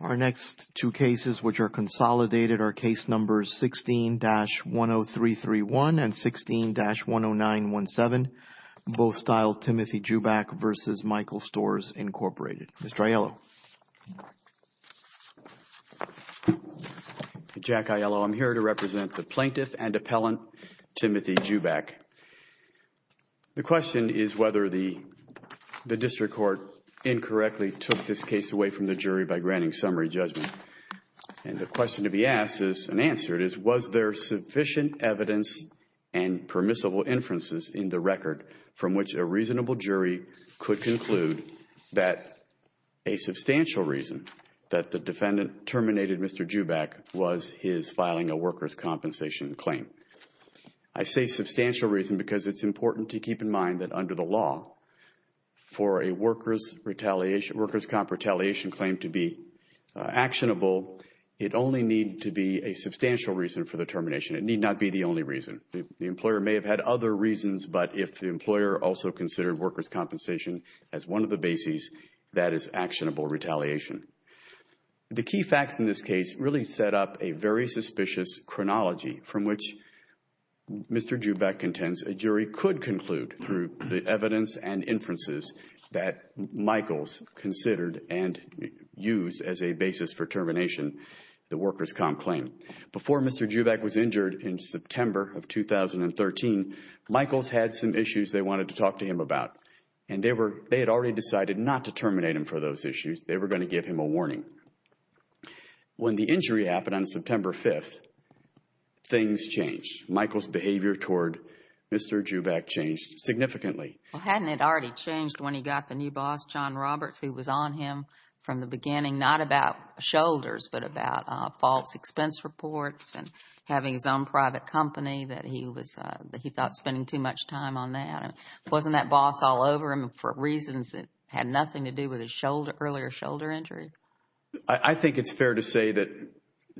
Our next two cases, which are consolidated, are Case Numbers 16-10331 and 16-10917. Both style Timothy Juback v. Michaels Stores, Inc. Mr. Aiello. Jack Aiello. I'm here to represent the plaintiff and appellant, Timothy Juback. The question is whether the district court incorrectly took this case away from the jury by granting summary judgment. And the question to be asked and answered is, was there sufficient evidence and permissible inferences in the record from which a reasonable jury could conclude that a substantial reason that the defendant terminated Mr. Juback was his filing a workers' compensation claim. I say substantial reason because it's important to keep in mind that under the law, for a workers' comp retaliation claim to be actionable, it only need to be a substantial reason for the termination. It need not be the only reason. The employer may have had other reasons, but if the employer also considered workers' compensation as one of the bases, that is actionable retaliation. The key facts in this case really set up a very suspicious chronology from which Mr. Juback contends a jury could conclude through the evidence and inferences that Michaels considered and used as a basis for termination the workers' comp claim. Before Mr. Juback was injured in September of 2013, Michaels had some issues they wanted to talk to him about. And they had already decided not to terminate him for those issues. They were going to give him a warning. When the injury happened on September 5th, things changed. Michaels' behavior toward Mr. Juback changed significantly. Well, hadn't it already changed when he got the new boss, John Roberts, who was on him from the beginning, not about shoulders, but about false expense reports and having his own private company, that he thought he was spending too much time on that? Wasn't that boss all over him for reasons that had nothing to do with his earlier shoulder injury? I think it's fair to say that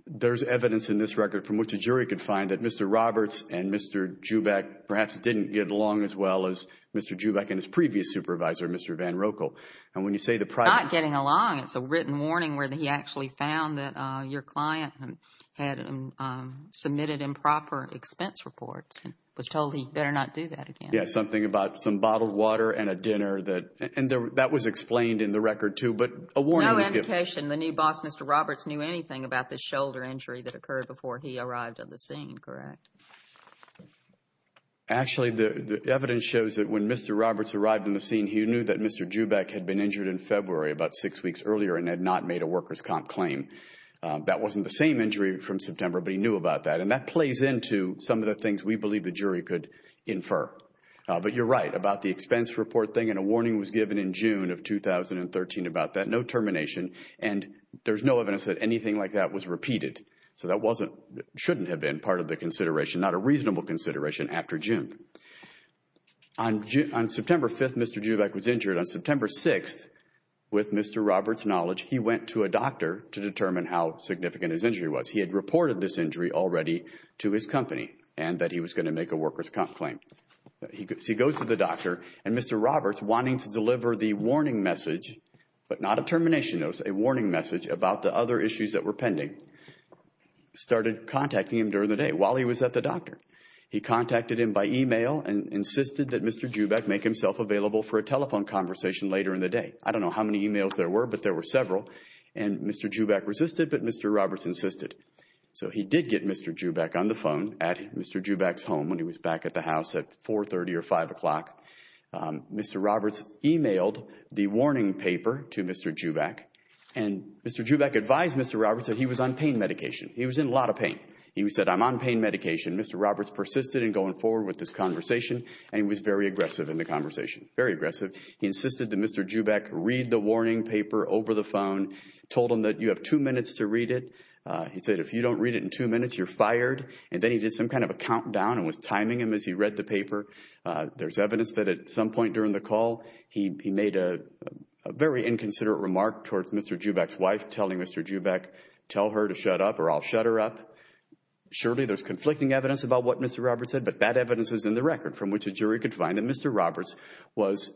there's evidence in this record from which a jury could find that Mr. Roberts and Mr. Juback perhaps didn't get along as well as Mr. Juback and his previous supervisor, Mr. VanRoekel. And when you say the private... Not getting along. It's a written warning where he actually found that your client had submitted improper expense reports and was told he better not do that again. Yeah, something about some bottled water and a dinner. And that was explained in the record, too. But a warning was given. No indication the new boss, Mr. Roberts, knew anything about this shoulder injury that occurred before he arrived on the scene, correct? Actually, the evidence shows that when Mr. Roberts arrived on the scene, he knew that Mr. Juback had been injured in February about six weeks earlier and had not made a workers' comp claim. That wasn't the same injury from September, but he knew about that. And that plays into some of the things we believe the jury could infer. But you're right about the expense report thing. And a warning was given in June of 2013 about that. No termination. And there's no evidence that anything like that was repeated. So that shouldn't have been part of the consideration, not a reasonable consideration after June. On September 5th, Mr. Juback was injured. On September 6th, with Mr. Roberts' knowledge, he went to a doctor to determine how significant his injury was. He had reported this injury already to his company and that he was going to make a workers' comp claim. So he goes to the doctor and Mr. Roberts, wanting to deliver the warning message, but not a termination notice, a warning message about the other issues that were pending, started contacting him during the day while he was at the doctor. He contacted him by email and insisted that Mr. Juback make himself available for a telephone conversation later in the day. I don't know how many emails there were, but there were several. And Mr. Juback resisted, but Mr. Roberts insisted. So he did get Mr. Juback on the phone at Mr. Juback's home when he was back at the house at 4.30 or 5 o'clock. Mr. Roberts emailed the warning paper to Mr. Juback. And Mr. Juback advised Mr. Roberts that he was on pain medication. He was in a lot of pain. He said, I'm on pain medication. Mr. Roberts persisted in going forward with this conversation, and he was very aggressive in the conversation. Very aggressive. He insisted that Mr. Juback read the warning paper over the phone, told him that you have two minutes to read it. He said, if you don't read it in two minutes, you're fired. And then he did some kind of a countdown and was timing him as he read the paper. There's evidence that at some point during the call, he made a very inconsiderate remark towards Mr. Juback's wife, telling Mr. Juback, tell her to shut up or I'll shut her up. Surely, there's conflicting evidence about what Mr. Roberts said, but that evidence is in the record from which a jury could find that Mr. Roberts was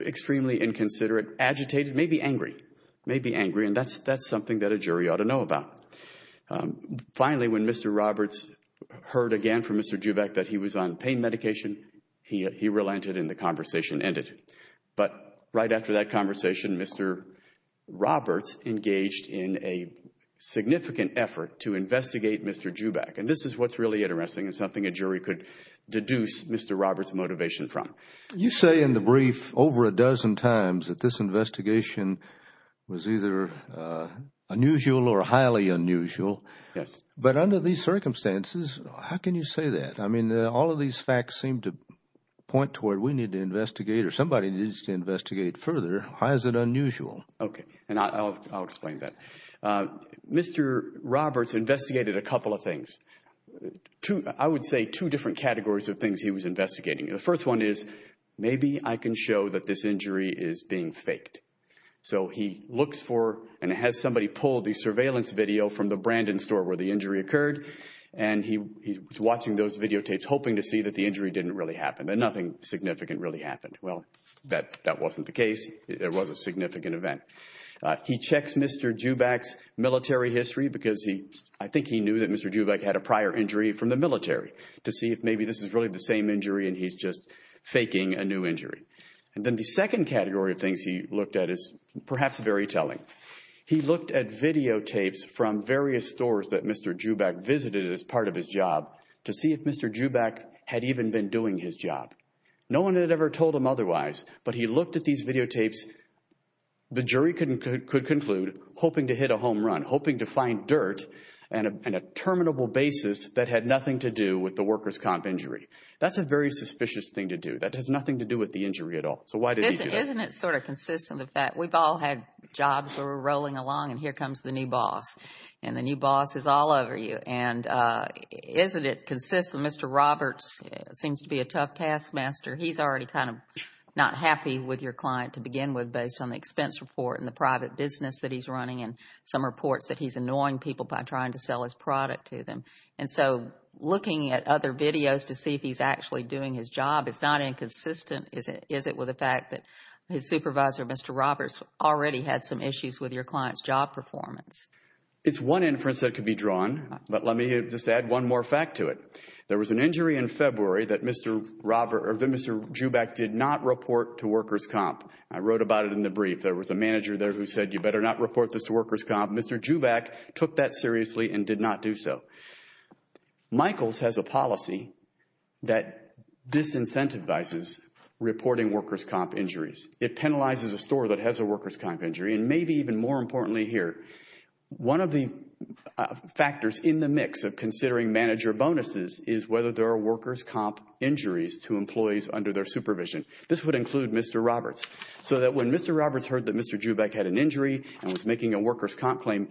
extremely inconsiderate, agitated, maybe angry. Maybe angry. And that's something that a jury ought to know about. Finally, when Mr. Roberts heard again from Mr. Juback that he was on pain medication, he relented and the conversation ended. But right after that conversation, Mr. Roberts engaged in a significant effort to investigate Mr. Juback. And this is what's really interesting and something a jury could deduce Mr. Roberts' motivation from. You say in the brief over a dozen times that this investigation was either unusual or highly unusual. Yes. But under these circumstances, how can you say that? I mean, all of these facts seem to point to where we need to investigate or somebody needs to investigate further. How is it unusual? Okay. And I'll explain that. Mr. Roberts investigated a couple of things, I would say two different categories of things he was investigating. The first one is maybe I can show that this injury is being faked. So he looks for and has somebody pull the surveillance video from the Brandon store where the injury occurred and he's watching those videotapes hoping to see that the injury didn't really happen and nothing significant really happened. Well, that wasn't the case. There was a significant event. He checks Mr. Juback's military history because I think he knew that Mr. Juback had a prior injury from the military to see if maybe this is really the same injury and he's just faking a new injury. And then the second category of things he looked at is perhaps very telling. He looked at videotapes from various stores that Mr. Juback visited as part of his job to see if Mr. Juback had even been doing his job. No one had ever told him otherwise, but he looked at these videotapes. The jury could conclude hoping to hit a home run, hoping to find dirt and a terminable basis that had nothing to do with the workers' comp injury. That's a very suspicious thing to do. That has nothing to do with the injury at all. So why did he do that? Isn't it sort of consistent with that? That's where we're rolling along and here comes the new boss. And the new boss is all over you. And isn't it consistent? Mr. Roberts seems to be a tough taskmaster. He's already kind of not happy with your client to begin with based on the expense report and the private business that he's running and some reports that he's annoying people by trying to sell his product to them. And so looking at other videos to see if he's actually doing his job is not inconsistent. Is it with the fact that his supervisor, Mr. Roberts, already had some issues with your client's job performance? It's one inference that could be drawn, but let me just add one more fact to it. There was an injury in February that Mr. Joubak did not report to workers' comp. I wrote about it in the brief. There was a manager there who said you better not report this to workers' comp. Mr. Joubak took that seriously and did not do so. Michaels has a policy that disincentivizes reporting workers' comp. injuries. It penalizes a store that has a workers' comp. injury. And maybe even more importantly here, one of the factors in the mix of considering manager bonuses is whether there are workers' comp. injuries to employees under their supervision. This would include Mr. Roberts. So that when Mr. Roberts heard that Mr. Joubak had an injury and was making a workers' comp. claim,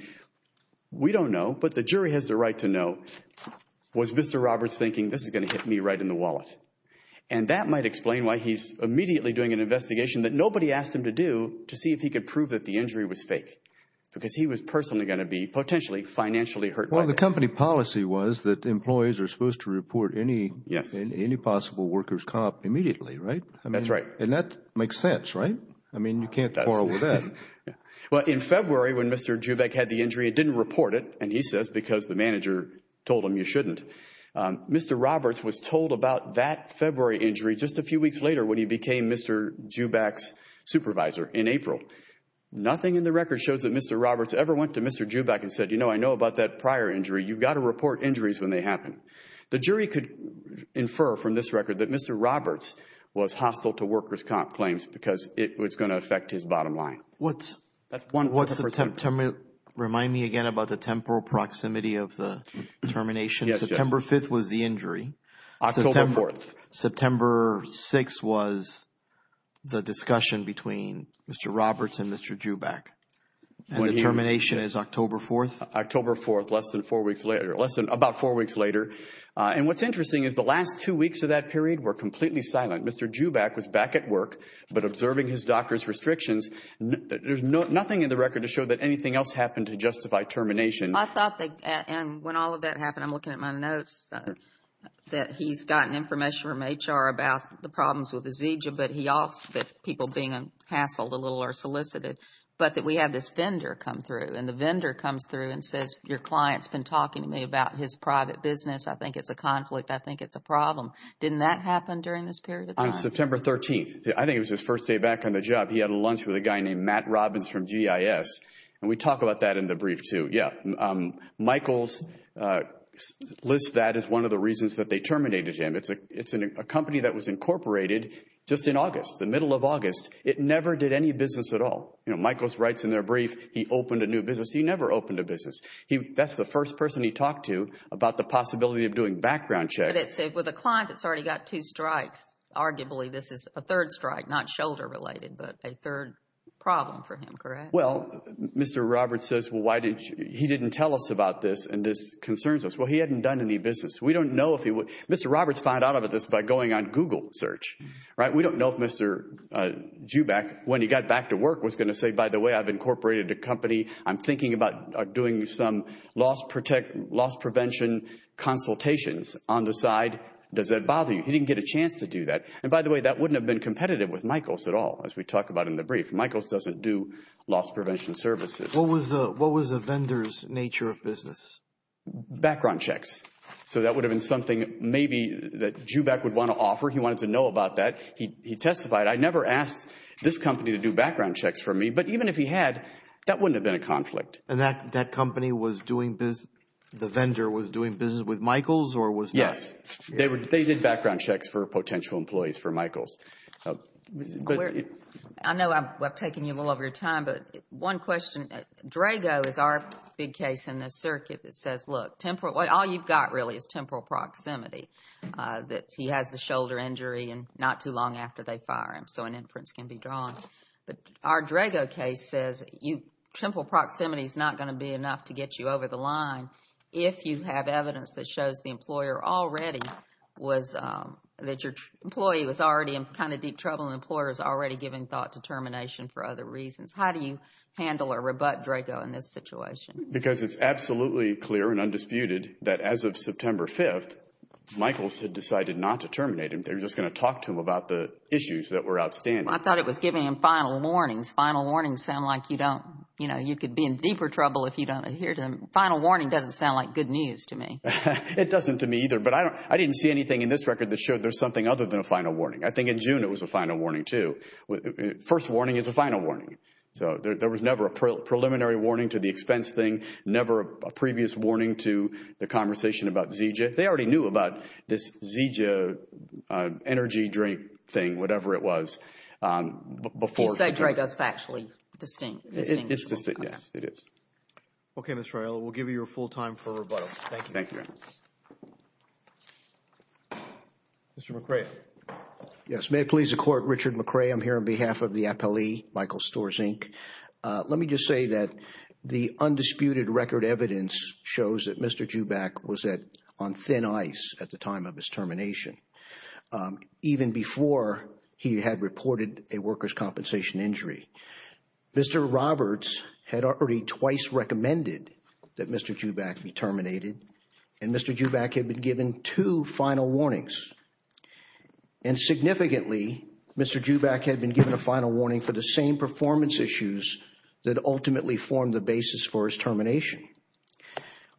we don't know, but the jury has the right to know, was Mr. Roberts thinking this is going to hit me right in the wallet. And that might explain why he's immediately doing an investigation that nobody asked him to do to see if he could prove that the injury was fake, because he was personally going to be potentially financially hurt by this. Well, the company policy was that employees are supposed to report any possible workers' comp. immediately, right? That's right. And that makes sense, right? I mean, you can't quarrel with that. Well, in February, when Mr. Joubak had the injury, it didn't report it, and he says because the manager told him you shouldn't. Mr. Roberts was told about that February injury just a few weeks later when he became Mr. Joubak's supervisor in April. Nothing in the record shows that Mr. Roberts ever went to Mr. Joubak and said, you know, I know about that prior injury. You've got to report injuries when they happen. The jury could infer from this record that Mr. Roberts was hostile to workers' comp. claims because it was going to affect his bottom line. Remind me again about the temporal proximity of the termination. Yes. September 5th was the injury. October 4th. September 6th was the discussion between Mr. Roberts and Mr. Joubak, and the termination is October 4th? October 4th, less than four weeks later, less than about four weeks later. And what's interesting is the last two weeks of that period were completely silent. Mr. Joubak was back at work, but observing his doctor's restrictions, there's nothing in the record to show that anything else happened to justify termination. I thought that, and when all of that happened, I'm looking at my notes, that he's gotten information from HR about the problems with Azizia, but he also, that people being hassled a little or solicited, but that we had this vendor come through, and the vendor comes through and says, your client's been talking to me about his private business. I think it's a problem. Didn't that happen during this period of time? On September 13th, I think it was his first day back on the job, he had a lunch with a guy named Matt Robbins from GIS, and we talk about that in the brief too, yeah. Michaels lists that as one of the reasons that they terminated him. It's a company that was incorporated just in August, the middle of August. It never did any business at all. Michaels writes in their brief, he opened a new business. He never opened a business. That's the first person he talked to about the possibility of doing background checks. With a client that's already got two strikes, arguably this is a third strike, not shoulder related, but a third problem for him, correct? Well, Mr. Roberts says, he didn't tell us about this, and this concerns us. Well, he hadn't done any business. We don't know if he would, Mr. Roberts found out about this by going on Google search. We don't know if Mr. Joubak, when he got back to work, was going to say, by the way, I've incorporated a company, I'm thinking about doing some loss prevention consultations on the side. Does that bother you? He didn't get a chance to do that. And by the way, that wouldn't have been competitive with Michaels at all, as we talk about in the brief. Michaels doesn't do loss prevention services. What was the vendor's nature of business? Background checks. So, that would have been something maybe that Joubak would want to offer, he wanted to know about that. He testified, I never asked this company to do background checks for me, but even if he had, that wouldn't have been a conflict. And that company was doing business, the vendor was doing business with Michaels or was not? Yes. They did background checks for potential employees for Michaels. I know I'm taking a little of your time, but one question, Drago is our big case in this circuit that says, look, all you've got really is temporal proximity, that he has the shoulder injury and not too long after they fire him, so an inference can be drawn. Our Drago case says temporal proximity is not going to be enough to get you over the line if you have evidence that shows the employer already was, that your employee was already in kind of deep trouble and the employer is already giving thought to termination for other reasons. How do you handle or rebut Drago in this situation? Because it's absolutely clear and undisputed that as of September 5th, Michaels had decided not to terminate him. They were just going to talk to him about the issues that were outstanding. I thought it was giving him final warnings. Final warnings sound like you could be in deeper trouble if you don't adhere to them. Final warning doesn't sound like good news to me. It doesn't to me either, but I didn't see anything in this record that showed there's something other than a final warning. I think in June, it was a final warning too. First warning is a final warning, so there was never a preliminary warning to the expense thing, never a previous warning to the conversation about ZJ. They already knew about this ZJ energy drink thing, whatever it was, before. You said Drago is factually distinct. It's distinct, yes, it is. Okay, Ms. Riello, we'll give you your full time for rebuttal. Thank you. Thank you. Mr. McRae. Yes, may it please the Court, Richard McRae. I'm here on behalf of the appellee, Michael Storz, Inc. Let me just say that the undisputed record evidence shows that Mr. Joubak was on thin ice at the time of his termination, even before he had reported a workers' compensation injury. Mr. Roberts had already twice recommended that Mr. Joubak be terminated, and Mr. Joubak had been given two final warnings. Significantly, Mr. Joubak had been given a final warning for the same performance issues that ultimately formed the basis for his termination.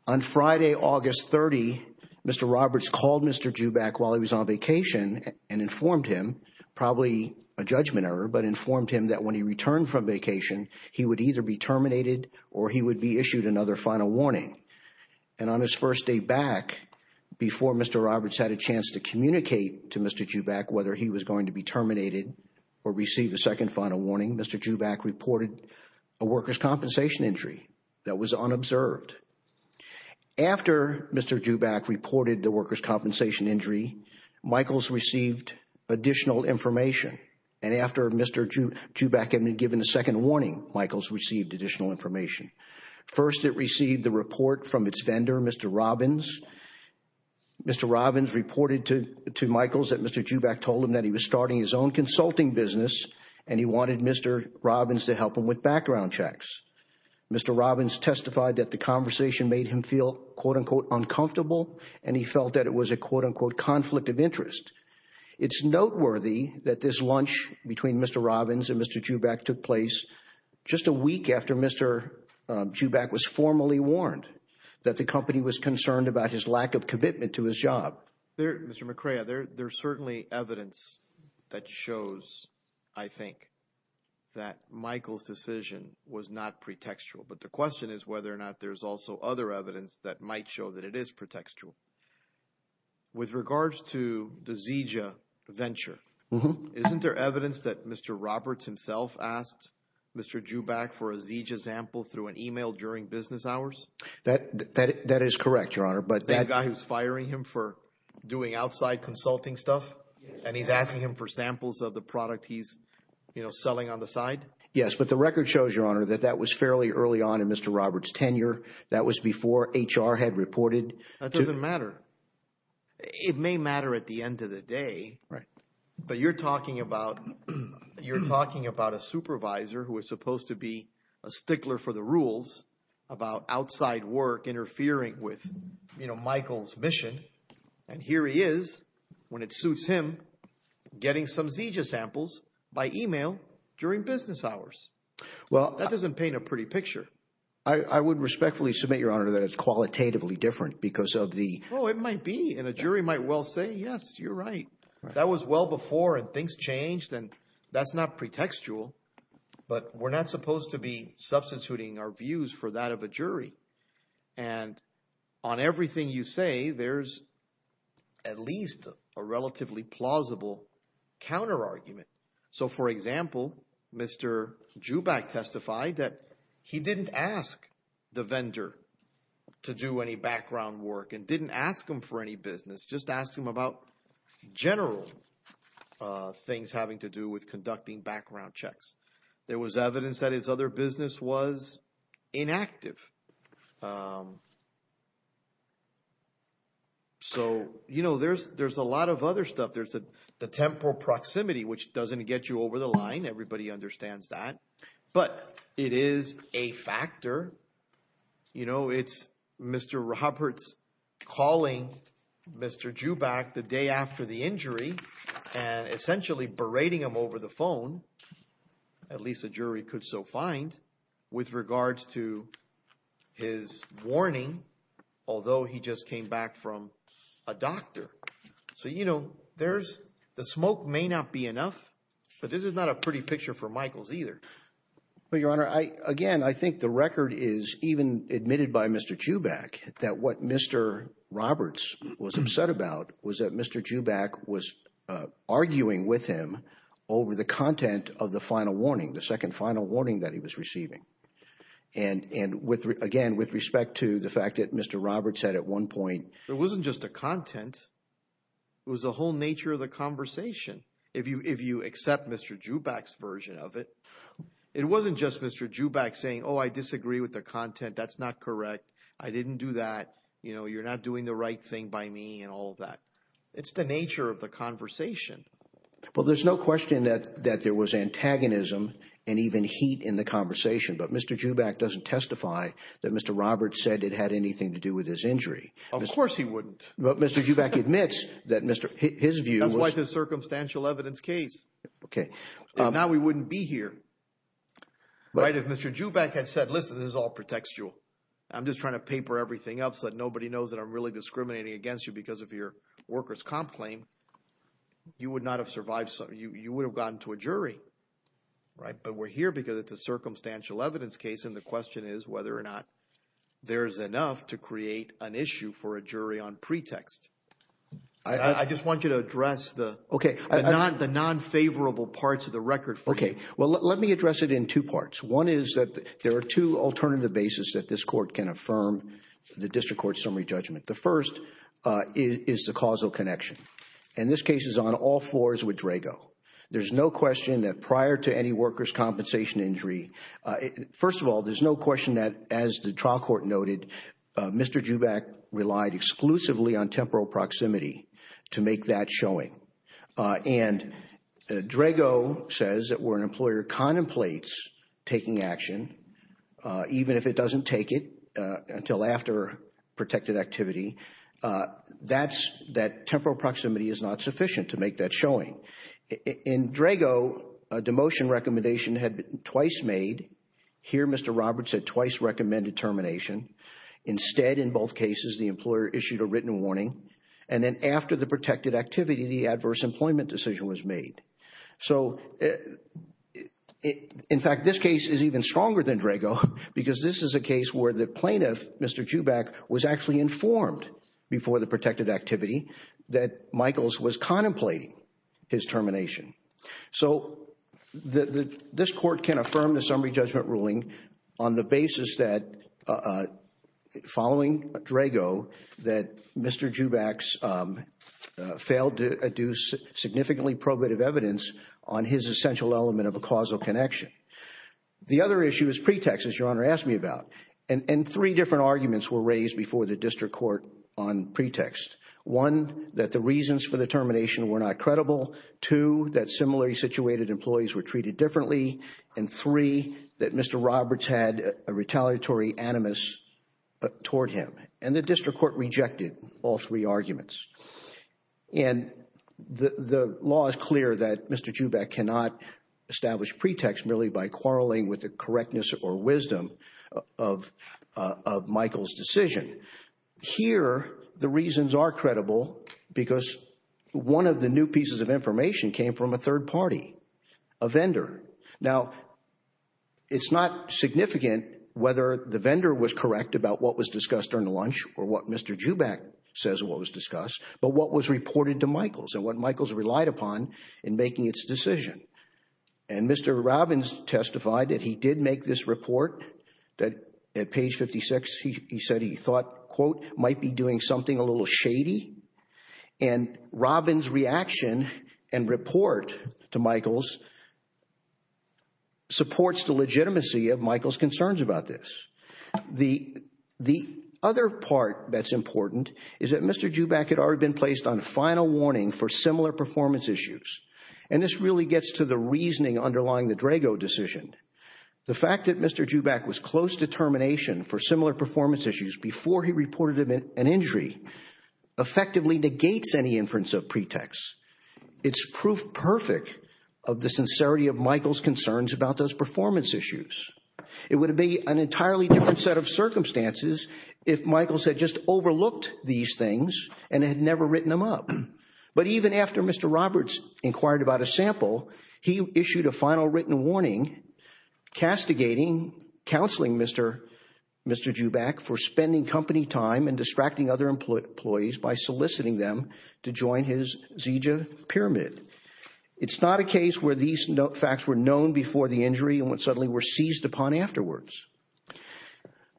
On Friday, August 30, Mr. Roberts called Mr. Joubak while he was on vacation and informed him, probably a judgment error, but informed him that when he returned from vacation, he would either be terminated or he would be issued another final warning. And on his first day back, before Mr. Roberts had a chance to communicate to Mr. Joubak whether he was going to be terminated or receive a second final warning, Mr. Joubak reported a workers' compensation injury that was unobserved. After Mr. Joubak reported the workers' compensation injury, Michaels received additional information. And after Mr. Joubak had been given a second warning, Michaels received additional information. First, it received the report from its vendor, Mr. Robbins. Mr. Robbins reported to Michaels that Mr. Joubak told him that he was starting his own consulting business and he wanted Mr. Robbins to help him with background checks. Mr. Robbins testified that the conversation made him feel, quote-unquote, uncomfortable, and he felt that it was a, quote-unquote, conflict of interest. It's noteworthy that this lunch between Mr. Robbins and Mr. Joubak took place just a week after Mr. Joubak was formally warned that the company was concerned about his lack of commitment to his job. There, Mr. McCrea, there's certainly evidence that shows, I think, that Michaels' decision was not pretextual. But the question is whether or not there's also other evidence that might show that it is pretextual. With regards to the ZJ venture, isn't there evidence that Mr. Roberts himself asked Mr. Joubak for a ZJ sample through an email during business hours? That is correct, Your Honor. That guy who's firing him for doing outside consulting stuff and he's asking him for samples of the product he's, you know, selling on the side? Yes, but the record shows, Your Honor, that that was fairly early on in Mr. Roberts' tenure. That was before HR had reported. That doesn't matter. It may matter at the end of the day, but you're talking about a supervisor who was supposed to be a stickler for the rules about outside work interfering with, you know, Michaels' mission, and here he is, when it suits him, getting some ZJ samples by email during business hours. Well, that doesn't paint a pretty picture. I would respectfully submit, Your Honor, that it's qualitatively different because of the... Oh, it might be, and a jury might well say, yes, you're right. That was well before and things changed and that's not pretextual. But we're not supposed to be substituting our views for that of a jury. And on everything you say, there's at least a relatively plausible counter-argument. So for example, Mr. Joubak testified that he didn't ask the vendor to do any background work and didn't ask him for any business, just asked him about general things having to do with conducting background checks. There was evidence that his other business was inactive. So you know, there's a lot of other stuff. There's the temporal proximity, which doesn't get you over the line. Everybody understands that. But it is a factor. You know, it's Mr. Roberts calling Mr. Joubak the day after the injury and essentially berating him over the phone, at least a jury could so find, with regards to his warning, although he just came back from a doctor. So you know, the smoke may not be enough, but this is not a pretty picture for Michaels either. But Your Honor, again, I think the record is even admitted by Mr. Joubak that what Mr. Roberts was upset about was that Mr. Joubak was arguing with him over the content of the final warning, the second final warning that he was receiving. And with, again, with respect to the fact that Mr. Roberts said at one point, it wasn't just a content, it was the whole nature of the conversation. If you accept Mr. Joubak's version of it, it wasn't just Mr. Joubak saying, oh, I disagree with the content. That's not correct. I didn't do that. You know, you're not doing the right thing by me and all of that. It's the nature of the conversation. Well, there's no question that there was antagonism and even heat in the conversation. But Mr. Joubak doesn't testify that Mr. Roberts said it had anything to do with his injury. Of course he wouldn't. But Mr. Joubak admits that his view was- That's why the circumstantial evidence case. Okay. Now we wouldn't be here. Right? If Mr. Joubak had said, listen, this all protects you. I'm just trying to paper everything up so that nobody knows that I'm really discriminating against you because of your worker's comp claim, you would not have survived. You would have gone to a jury. Right? But we're here because it's a circumstantial evidence case and the question is whether or not there's enough to create an issue for a jury on pretext. I just want you to address the non-favorable parts of the record for me. Okay. Well, let me address it in two parts. One is that there are two alternative basis that this court can affirm the district court summary judgment. The first is the causal connection and this case is on all fours with Drago. There's no question that prior to any worker's compensation injury, first of all, there's no question that as the trial court noted, Mr. Joubak relied exclusively on temporal proximity to make that showing. And Drago says that where an employer contemplates taking action, even if it doesn't take it until after protected activity, that temporal proximity is not sufficient to make that showing. In Drago, a demotion recommendation had been twice made. Here Mr. Roberts had twice recommended termination. Instead, in both cases, the employer issued a written warning. And then after the protected activity, the adverse employment decision was made. So in fact, this case is even stronger than Drago because this is a case where the plaintiff, Mr. Joubak, was actually informed before the protected activity that Michaels was contemplating his termination. So this court can affirm the summary judgment ruling on the basis that following Drago that Mr. Joubak failed to do significantly probative evidence on his essential element of a causal connection. The other issue is pretext, as Your Honor asked me about. And three different arguments were raised before the district court on pretext. One, that the reasons for the termination were not credible. Two, that similarly situated employees were treated differently. And three, that Mr. Roberts had a retaliatory animus toward him. And the district court rejected all three arguments. And the law is clear that Mr. Joubak cannot establish pretext merely by quarreling with the correctness or wisdom of Michael's decision. Here the reasons are credible because one of the new pieces of information came from a third party, a vendor. Now it's not significant whether the vendor was correct about what was discussed during lunch or what Mr. Joubak says what was discussed, but what was reported to Michaels and what Michaels relied upon in making its decision. And Mr. Robbins testified that he did make this report, that at page 56 he said he thought, quote, might be doing something a little shady. And Robbins' reaction and report to Michaels supports the legitimacy of Michaels' concerns about this. The other part that's important is that Mr. Joubak had already been placed on final warning for similar performance issues. And this really gets to the reasoning underlying the Drago decision. The fact that Mr. Joubak was close to termination for similar performance issues before he reported an injury effectively negates any inference of pretext. It's proof perfect of the sincerity of Michaels' concerns about those performance issues. It would be an entirely different set of circumstances if Michaels had just overlooked these things and had never written them up. But even after Mr. Roberts inquired about a sample, he issued a final written warning castigating counseling Mr. Joubak for spending company time and distracting other employees by soliciting them to join his ZJ pyramid. It's not a case where these facts were known before the injury and suddenly were seized upon afterwards.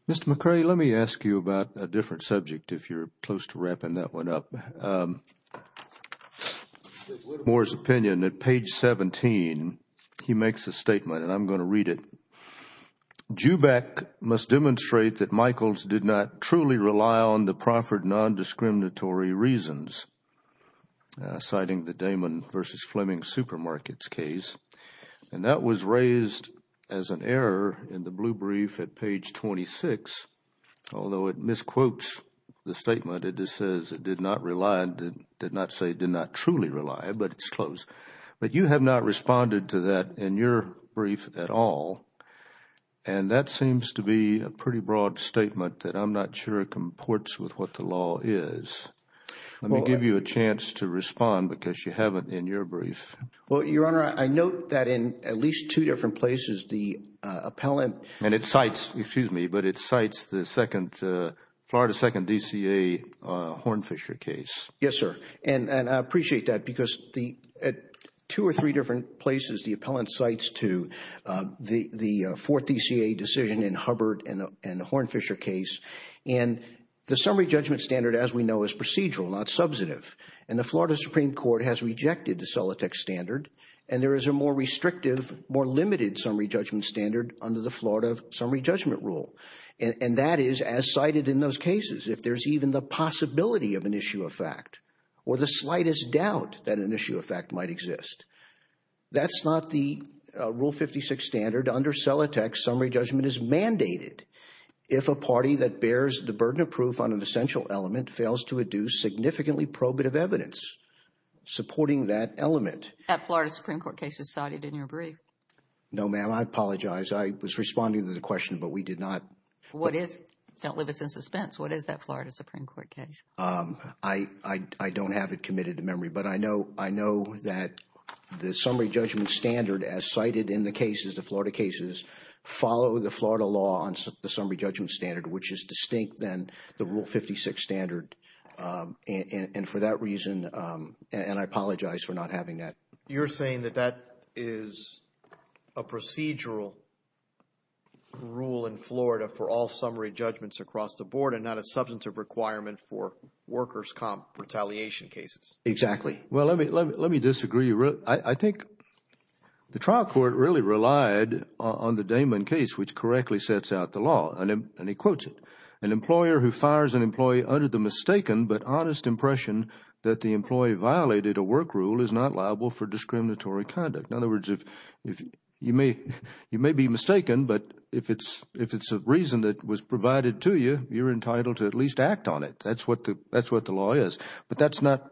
Mr. McCready, let me ask you about a different subject if you're close to wrapping that one up. Moore's opinion at page 17, he makes a statement and I'm going to read it. Joubak must demonstrate that Michaels did not truly rely on the proffered non-discriminatory reasons, citing the Damon v. Fleming supermarkets case. And that was raised as an error in the blue brief at page 26, although it misquotes the statement. It just says it did not rely, did not say did not truly rely, but it's close. But you have not responded to that in your brief at all. And that seems to be a pretty broad statement that I'm not sure it comports with what the law is. Let me give you a chance to respond because you haven't in your brief. Well, Your Honor, I note that in at least two different places, the appellant And it cites, excuse me, but it cites the Florida second DCA Hornfisher case. Yes, sir. And I appreciate that because at two or three different places, the appellant cites to the fourth DCA decision in Hubbard and the Hornfisher case. And the summary judgment standard, as we know, is procedural, not subsidive. And the Florida Supreme Court has rejected the Celotex standard. And there is a more restrictive, more limited summary judgment standard under the Florida summary judgment rule. And that is as cited in those cases, if there's even the possibility of an issue of fact or the slightest doubt that an issue of fact might exist. That's not the Rule 56 standard under Celotex. Summary judgment is mandated if a party that bears the burden of proof on an essential element fails to adduce significantly probative evidence supporting that element. That Florida Supreme Court case is cited in your brief. No, ma'am, I apologize. I was responding to the question, but we did not. What is, don't leave us in suspense, what is that Florida Supreme Court case? I don't have it committed to memory, but I know that the summary judgment standard, as cited in the cases, the Florida cases, follow the Florida law on the summary judgment standard, which is distinct than the Rule 56 standard. And for that reason, and I apologize for not having that. You're saying that that is a procedural rule in Florida for all summary judgments across the board and not a substantive requirement for workers' comp retaliation cases. Exactly. Well, let me disagree. I think the trial court really relied on the Damon case, which correctly sets out the law. And he quotes it, an employer who fires an employee under the mistaken but honest impression that the employee violated a work rule is not liable for discriminatory conduct. In other words, you may be mistaken, but if it's a reason that was provided to you, you're entitled to at least act on it. That's what the law is. But that's not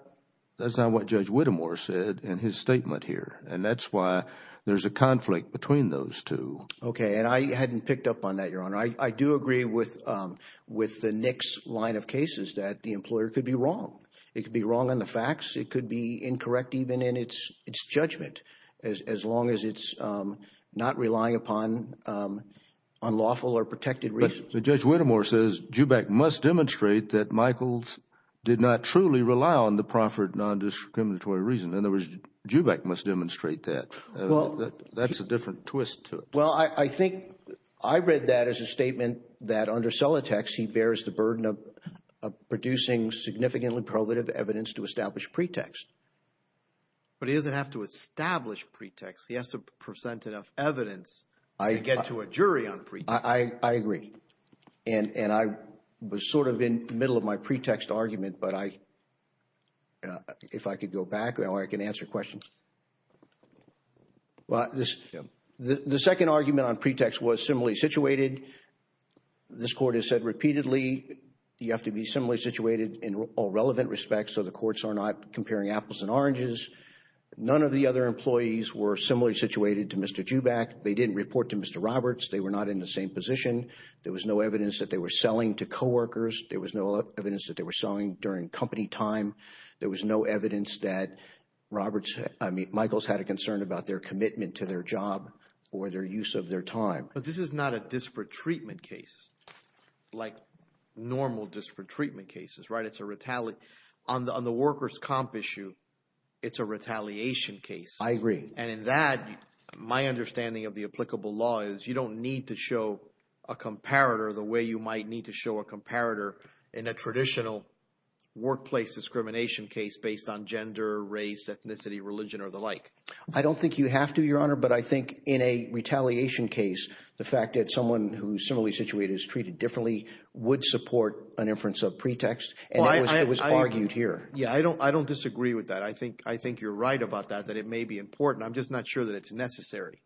what Judge Whittemore said in his statement here. And that's why there's a conflict between those two. Okay. And I hadn't picked up on that, Your Honor. I do agree with the Nix line of cases that the employer could be wrong. It could be wrong on the facts. It could be incorrect even in its judgment, as long as it's not relying upon unlawful or protected reasons. Judge Whittemore says Jubeck must demonstrate that Michaels did not truly rely on the proffered nondiscriminatory reason. In other words, Jubeck must demonstrate that. That's a different twist to it. Well, I think I read that as a statement that under Solitex, he bears the burden of producing significantly prohibitive evidence to establish pretext. But he doesn't have to establish pretext. He has to present enough evidence to get to a jury on pretext. I agree. And I was sort of in the middle of my pretext argument. But if I could go back, I can answer questions. Well, the second argument on pretext was similarly situated. This Court has said repeatedly, you have to be similarly situated in all relevant respects so the courts are not comparing apples and oranges. None of the other employees were similarly situated to Mr. Jubeck. They didn't report to Mr. Roberts. They were not in the same position. There was no evidence that they were selling to co-workers. There was no evidence that they were selling during company time. There was no evidence that Michael's had a concern about their commitment to their job or their use of their time. But this is not a disparate treatment case like normal disparate treatment cases, right? On the workers' comp issue, it's a retaliation case. I agree. And in that, my understanding of the applicable law is you don't need to show a comparator the way you might need to show a comparator in a traditional workplace discrimination case based on gender, race, ethnicity, religion, or the like. I don't think you have to, Your Honor. But I think in a retaliation case, the fact that someone who's similarly situated is treated differently would support an inference of pretext. And it was argued here. Yeah, I don't disagree with that. I think you're right about that, that it may be important. I'm just not sure that it's necessary.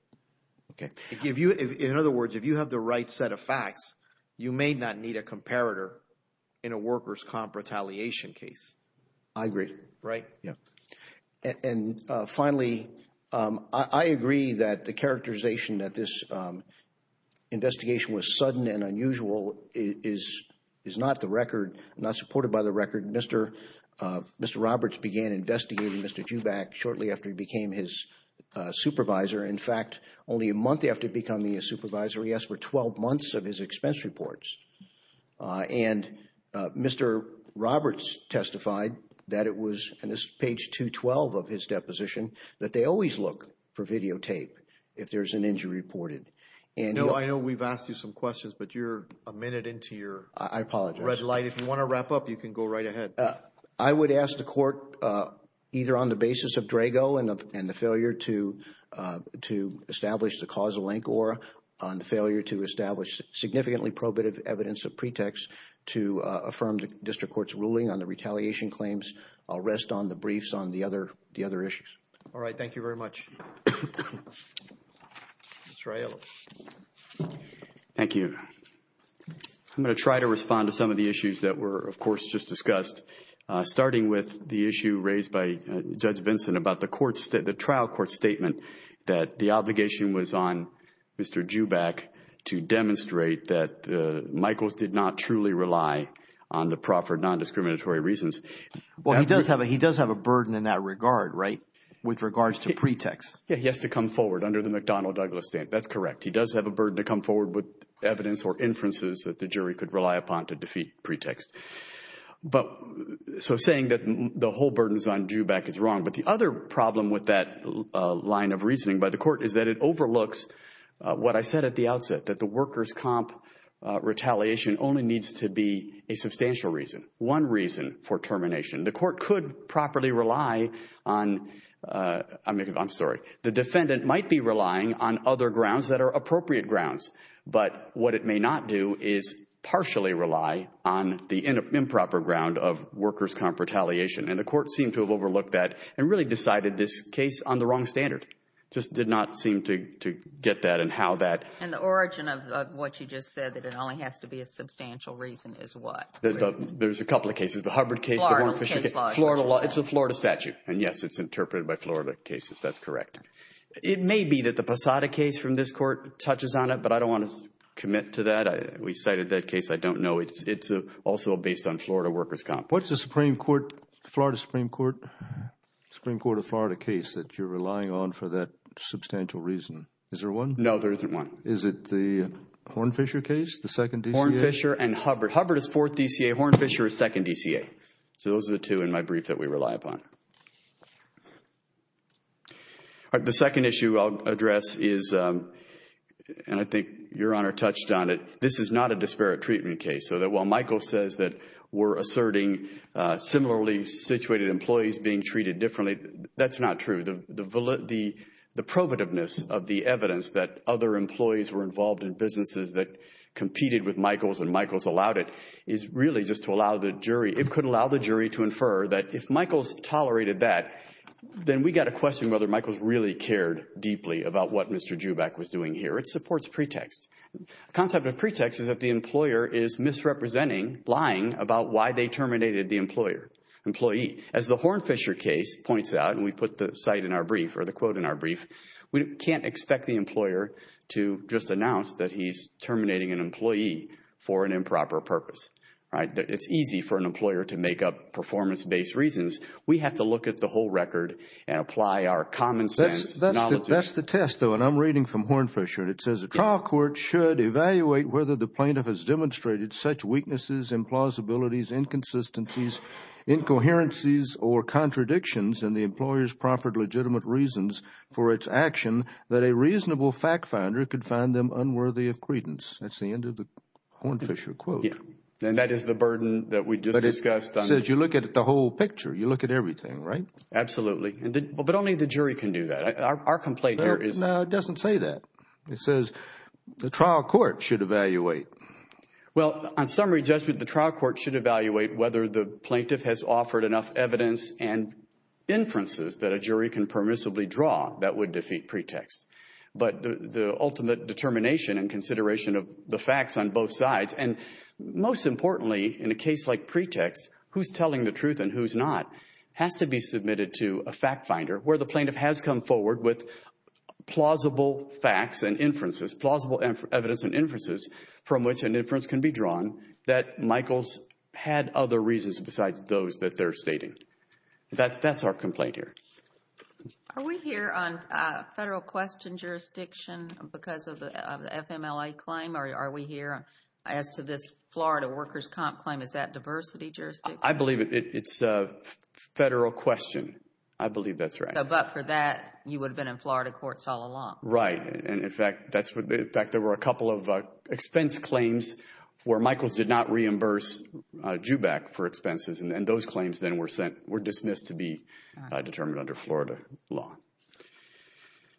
Okay. In other words, if you have the right set of facts, you may not need a comparator in a workers' comp retaliation case. I agree. Right. And finally, I agree that the characterization that this investigation was sudden and unusual is not the record, not supported by the record. Mr. Roberts began investigating Mr. Jubak shortly after he became his supervisor. In fact, only a month after becoming a supervisor, he asked for 12 months of his expense reports. And Mr. Roberts testified that it was, and this is page 212 of his deposition, that they always look for videotape if there's an injury reported. You know, I know we've asked you some questions, but you're a minute into your red light. If you want to wrap up, you can go right ahead. I would ask the court, either on the basis of Drago and the failure to establish the causal link or on the failure to establish significantly probative evidence of pretext to affirm the district court's ruling on the retaliation claims. I'll rest on the briefs on the other issues. All right. Thank you very much. Mr. Ayala. Thank you. I'm going to try to respond to some of the issues that were, of course, just discussed. Starting with the issue raised by Judge Vincent about the trial court statement that the obligation was on Mr. Joubak to demonstrate that Michaels did not truly rely on the proffered non-discriminatory reasons. Well, he does have a burden in that regard, right? With regards to pretext. Yeah, he has to come forward under the McDonnell-Douglas stand. That's correct. He does have a burden to come forward with evidence or inferences that the jury could rely upon to defeat pretext. But so saying that the whole burden is on Joubak is wrong. But the other problem with that line of reasoning by the court is that it overlooks what I said at the outset, that the workers' comp retaliation only needs to be a substantial reason, one reason for termination. The court could properly rely on, I'm sorry, the defendant might be relying on other grounds that are appropriate grounds. But what it may not do is partially rely on the improper ground of workers' comp retaliation. And the court seemed to have overlooked that and really decided this case on the wrong standard. Just did not seem to get that and how that. And the origin of what you just said that it only has to be a substantial reason is what? There's a couple of cases. The Hubbard case. It's a Florida statute. And yes, it's interpreted by Florida cases. That's correct. It may be that the Posada case from this court touches on it, but I don't want to commit to that. We cited that case. I don't know. It's also based on Florida workers' comp. What's the Supreme Court, Florida Supreme Court, Supreme Court of Florida case that you're relying on for that substantial reason? Is there one? No, there isn't one. Is it the Hornfisher case? The second DCA? Hornfisher and Hubbard. Hubbard is fourth DCA. Hornfisher is second DCA. So those are the two in my brief that we rely upon. All right. The second issue I'll address is, and I think Your Honor touched on it. This is not a disparate treatment case. So that while Michael says that we're asserting similarly situated employees being treated differently, that's not true. The provativeness of the evidence that other employees were involved in businesses that competed with Michael's and Michael's allowed it is really just to allow the jury, it could Michael's tolerated that, then we got a question whether Michael's really cared deeply about what Mr. Joubak was doing here. It supports pretext. Concept of pretext is that the employer is misrepresenting, lying about why they terminated the employee. As the Hornfisher case points out, and we put the quote in our brief, we can't expect the employer to just announce that he's terminating an employee for an improper purpose. All right. It's easy for an employer to make up performance-based reasons. We have to look at the whole record and apply our common sense. That's the test, though, and I'm reading from Hornfisher. And it says, a trial court should evaluate whether the plaintiff has demonstrated such weaknesses, implausibilities, inconsistencies, incoherencies or contradictions in the employer's proffered legitimate reasons for its action that a reasonable fact finder could find them unworthy of credence. That's the end of the Hornfisher quote. And that is the burden that we just discussed. But it says you look at the whole picture. You look at everything, right? Absolutely. But only the jury can do that. Our complaint here is... No, it doesn't say that. It says the trial court should evaluate. Well, on summary judgment, the trial court should evaluate whether the plaintiff has offered enough evidence and inferences that a jury can permissibly draw that would defeat pretext. But the ultimate determination and consideration of the facts on both sides, and most importantly in a case like pretext, who's telling the truth and who's not, has to be submitted to a fact finder where the plaintiff has come forward with plausible facts and inferences, plausible evidence and inferences from which an inference can be drawn that Michael's had other reasons besides those that they're stating. That's our complaint here. Are we here on federal question jurisdiction because of the FMLA claim? Are we here as to this Florida workers' comp claim? Is that diversity jurisdiction? I believe it's a federal question. I believe that's right. But for that, you would have been in Florida courts all along. Right. And in fact, there were a couple of expense claims where Michael's did not reimburse JUBAC for expenses. And those claims then were dismissed to be determined under Florida law.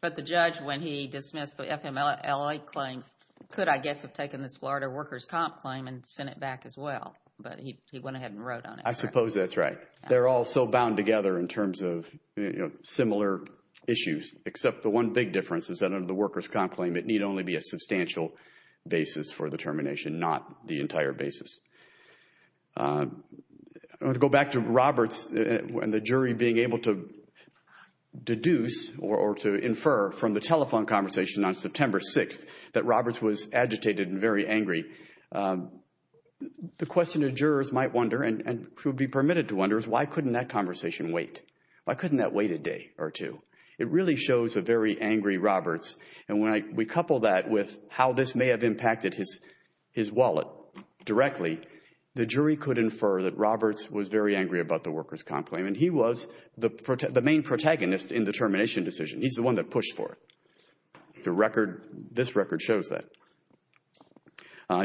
But the judge, when he dismissed the FMLA claims, could, I guess, have taken this Florida workers' comp claim and sent it back as well. But he went ahead and wrote on it. I suppose that's right. They're all so bound together in terms of similar issues, except the one big difference is that under the workers' comp claim, it need only be a substantial basis for determination, not the entire basis. I want to go back to Roberts and the jury being able to deduce or to infer from the telephone conversation on September 6th that Roberts was agitated and very angry. The question that jurors might wonder and should be permitted to wonder is why couldn't that conversation wait? Why couldn't that wait a day or two? It really shows a very angry Roberts. And when we couple that with how this may have impacted his wallet directly, the jury could infer that Roberts was very angry about the workers' comp claim. And he was the main protagonist in the termination decision. He's the one that pushed for it. This record shows that.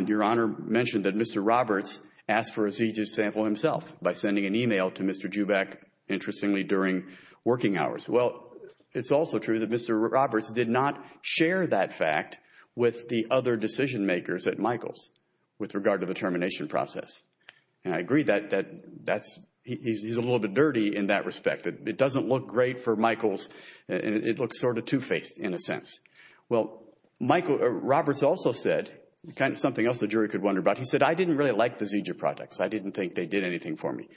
Your Honor mentioned that Mr. Roberts asked for a seizure sample himself by sending an email to Mr. JUBAC, interestingly, during working hours. Well, it's also true that Mr. Roberts did not share that fact with the other decision makers at Michaels with regard to the termination process. And I agree that he's a little bit dirty in that respect. It doesn't look great for Michaels. It looks sort of two-faced in a sense. Well, Roberts also said something else the jury could wonder about. He said, I didn't really like the seizure projects. I didn't think they did anything for me.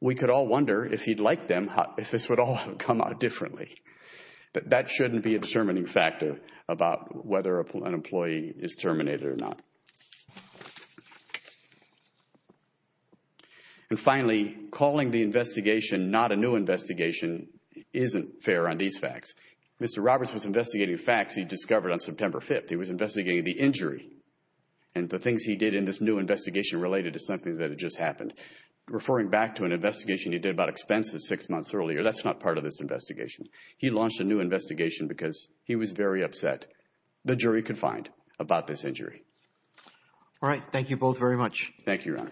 We could all wonder, if he'd liked them, if this would all have come out differently. But that shouldn't be a determining factor about whether an employee is terminated or not. And finally, calling the investigation not a new investigation isn't fair on these facts. Mr. Roberts was investigating facts he discovered on September 5th. He was investigating the injury and the things he did in this new investigation related to something that had just happened. Referring back to an investigation he did about expenses six months earlier, that's not part of this investigation. He launched a new investigation because he was very upset, the jury could find, about this injury. All right. Thank you, Your Honor.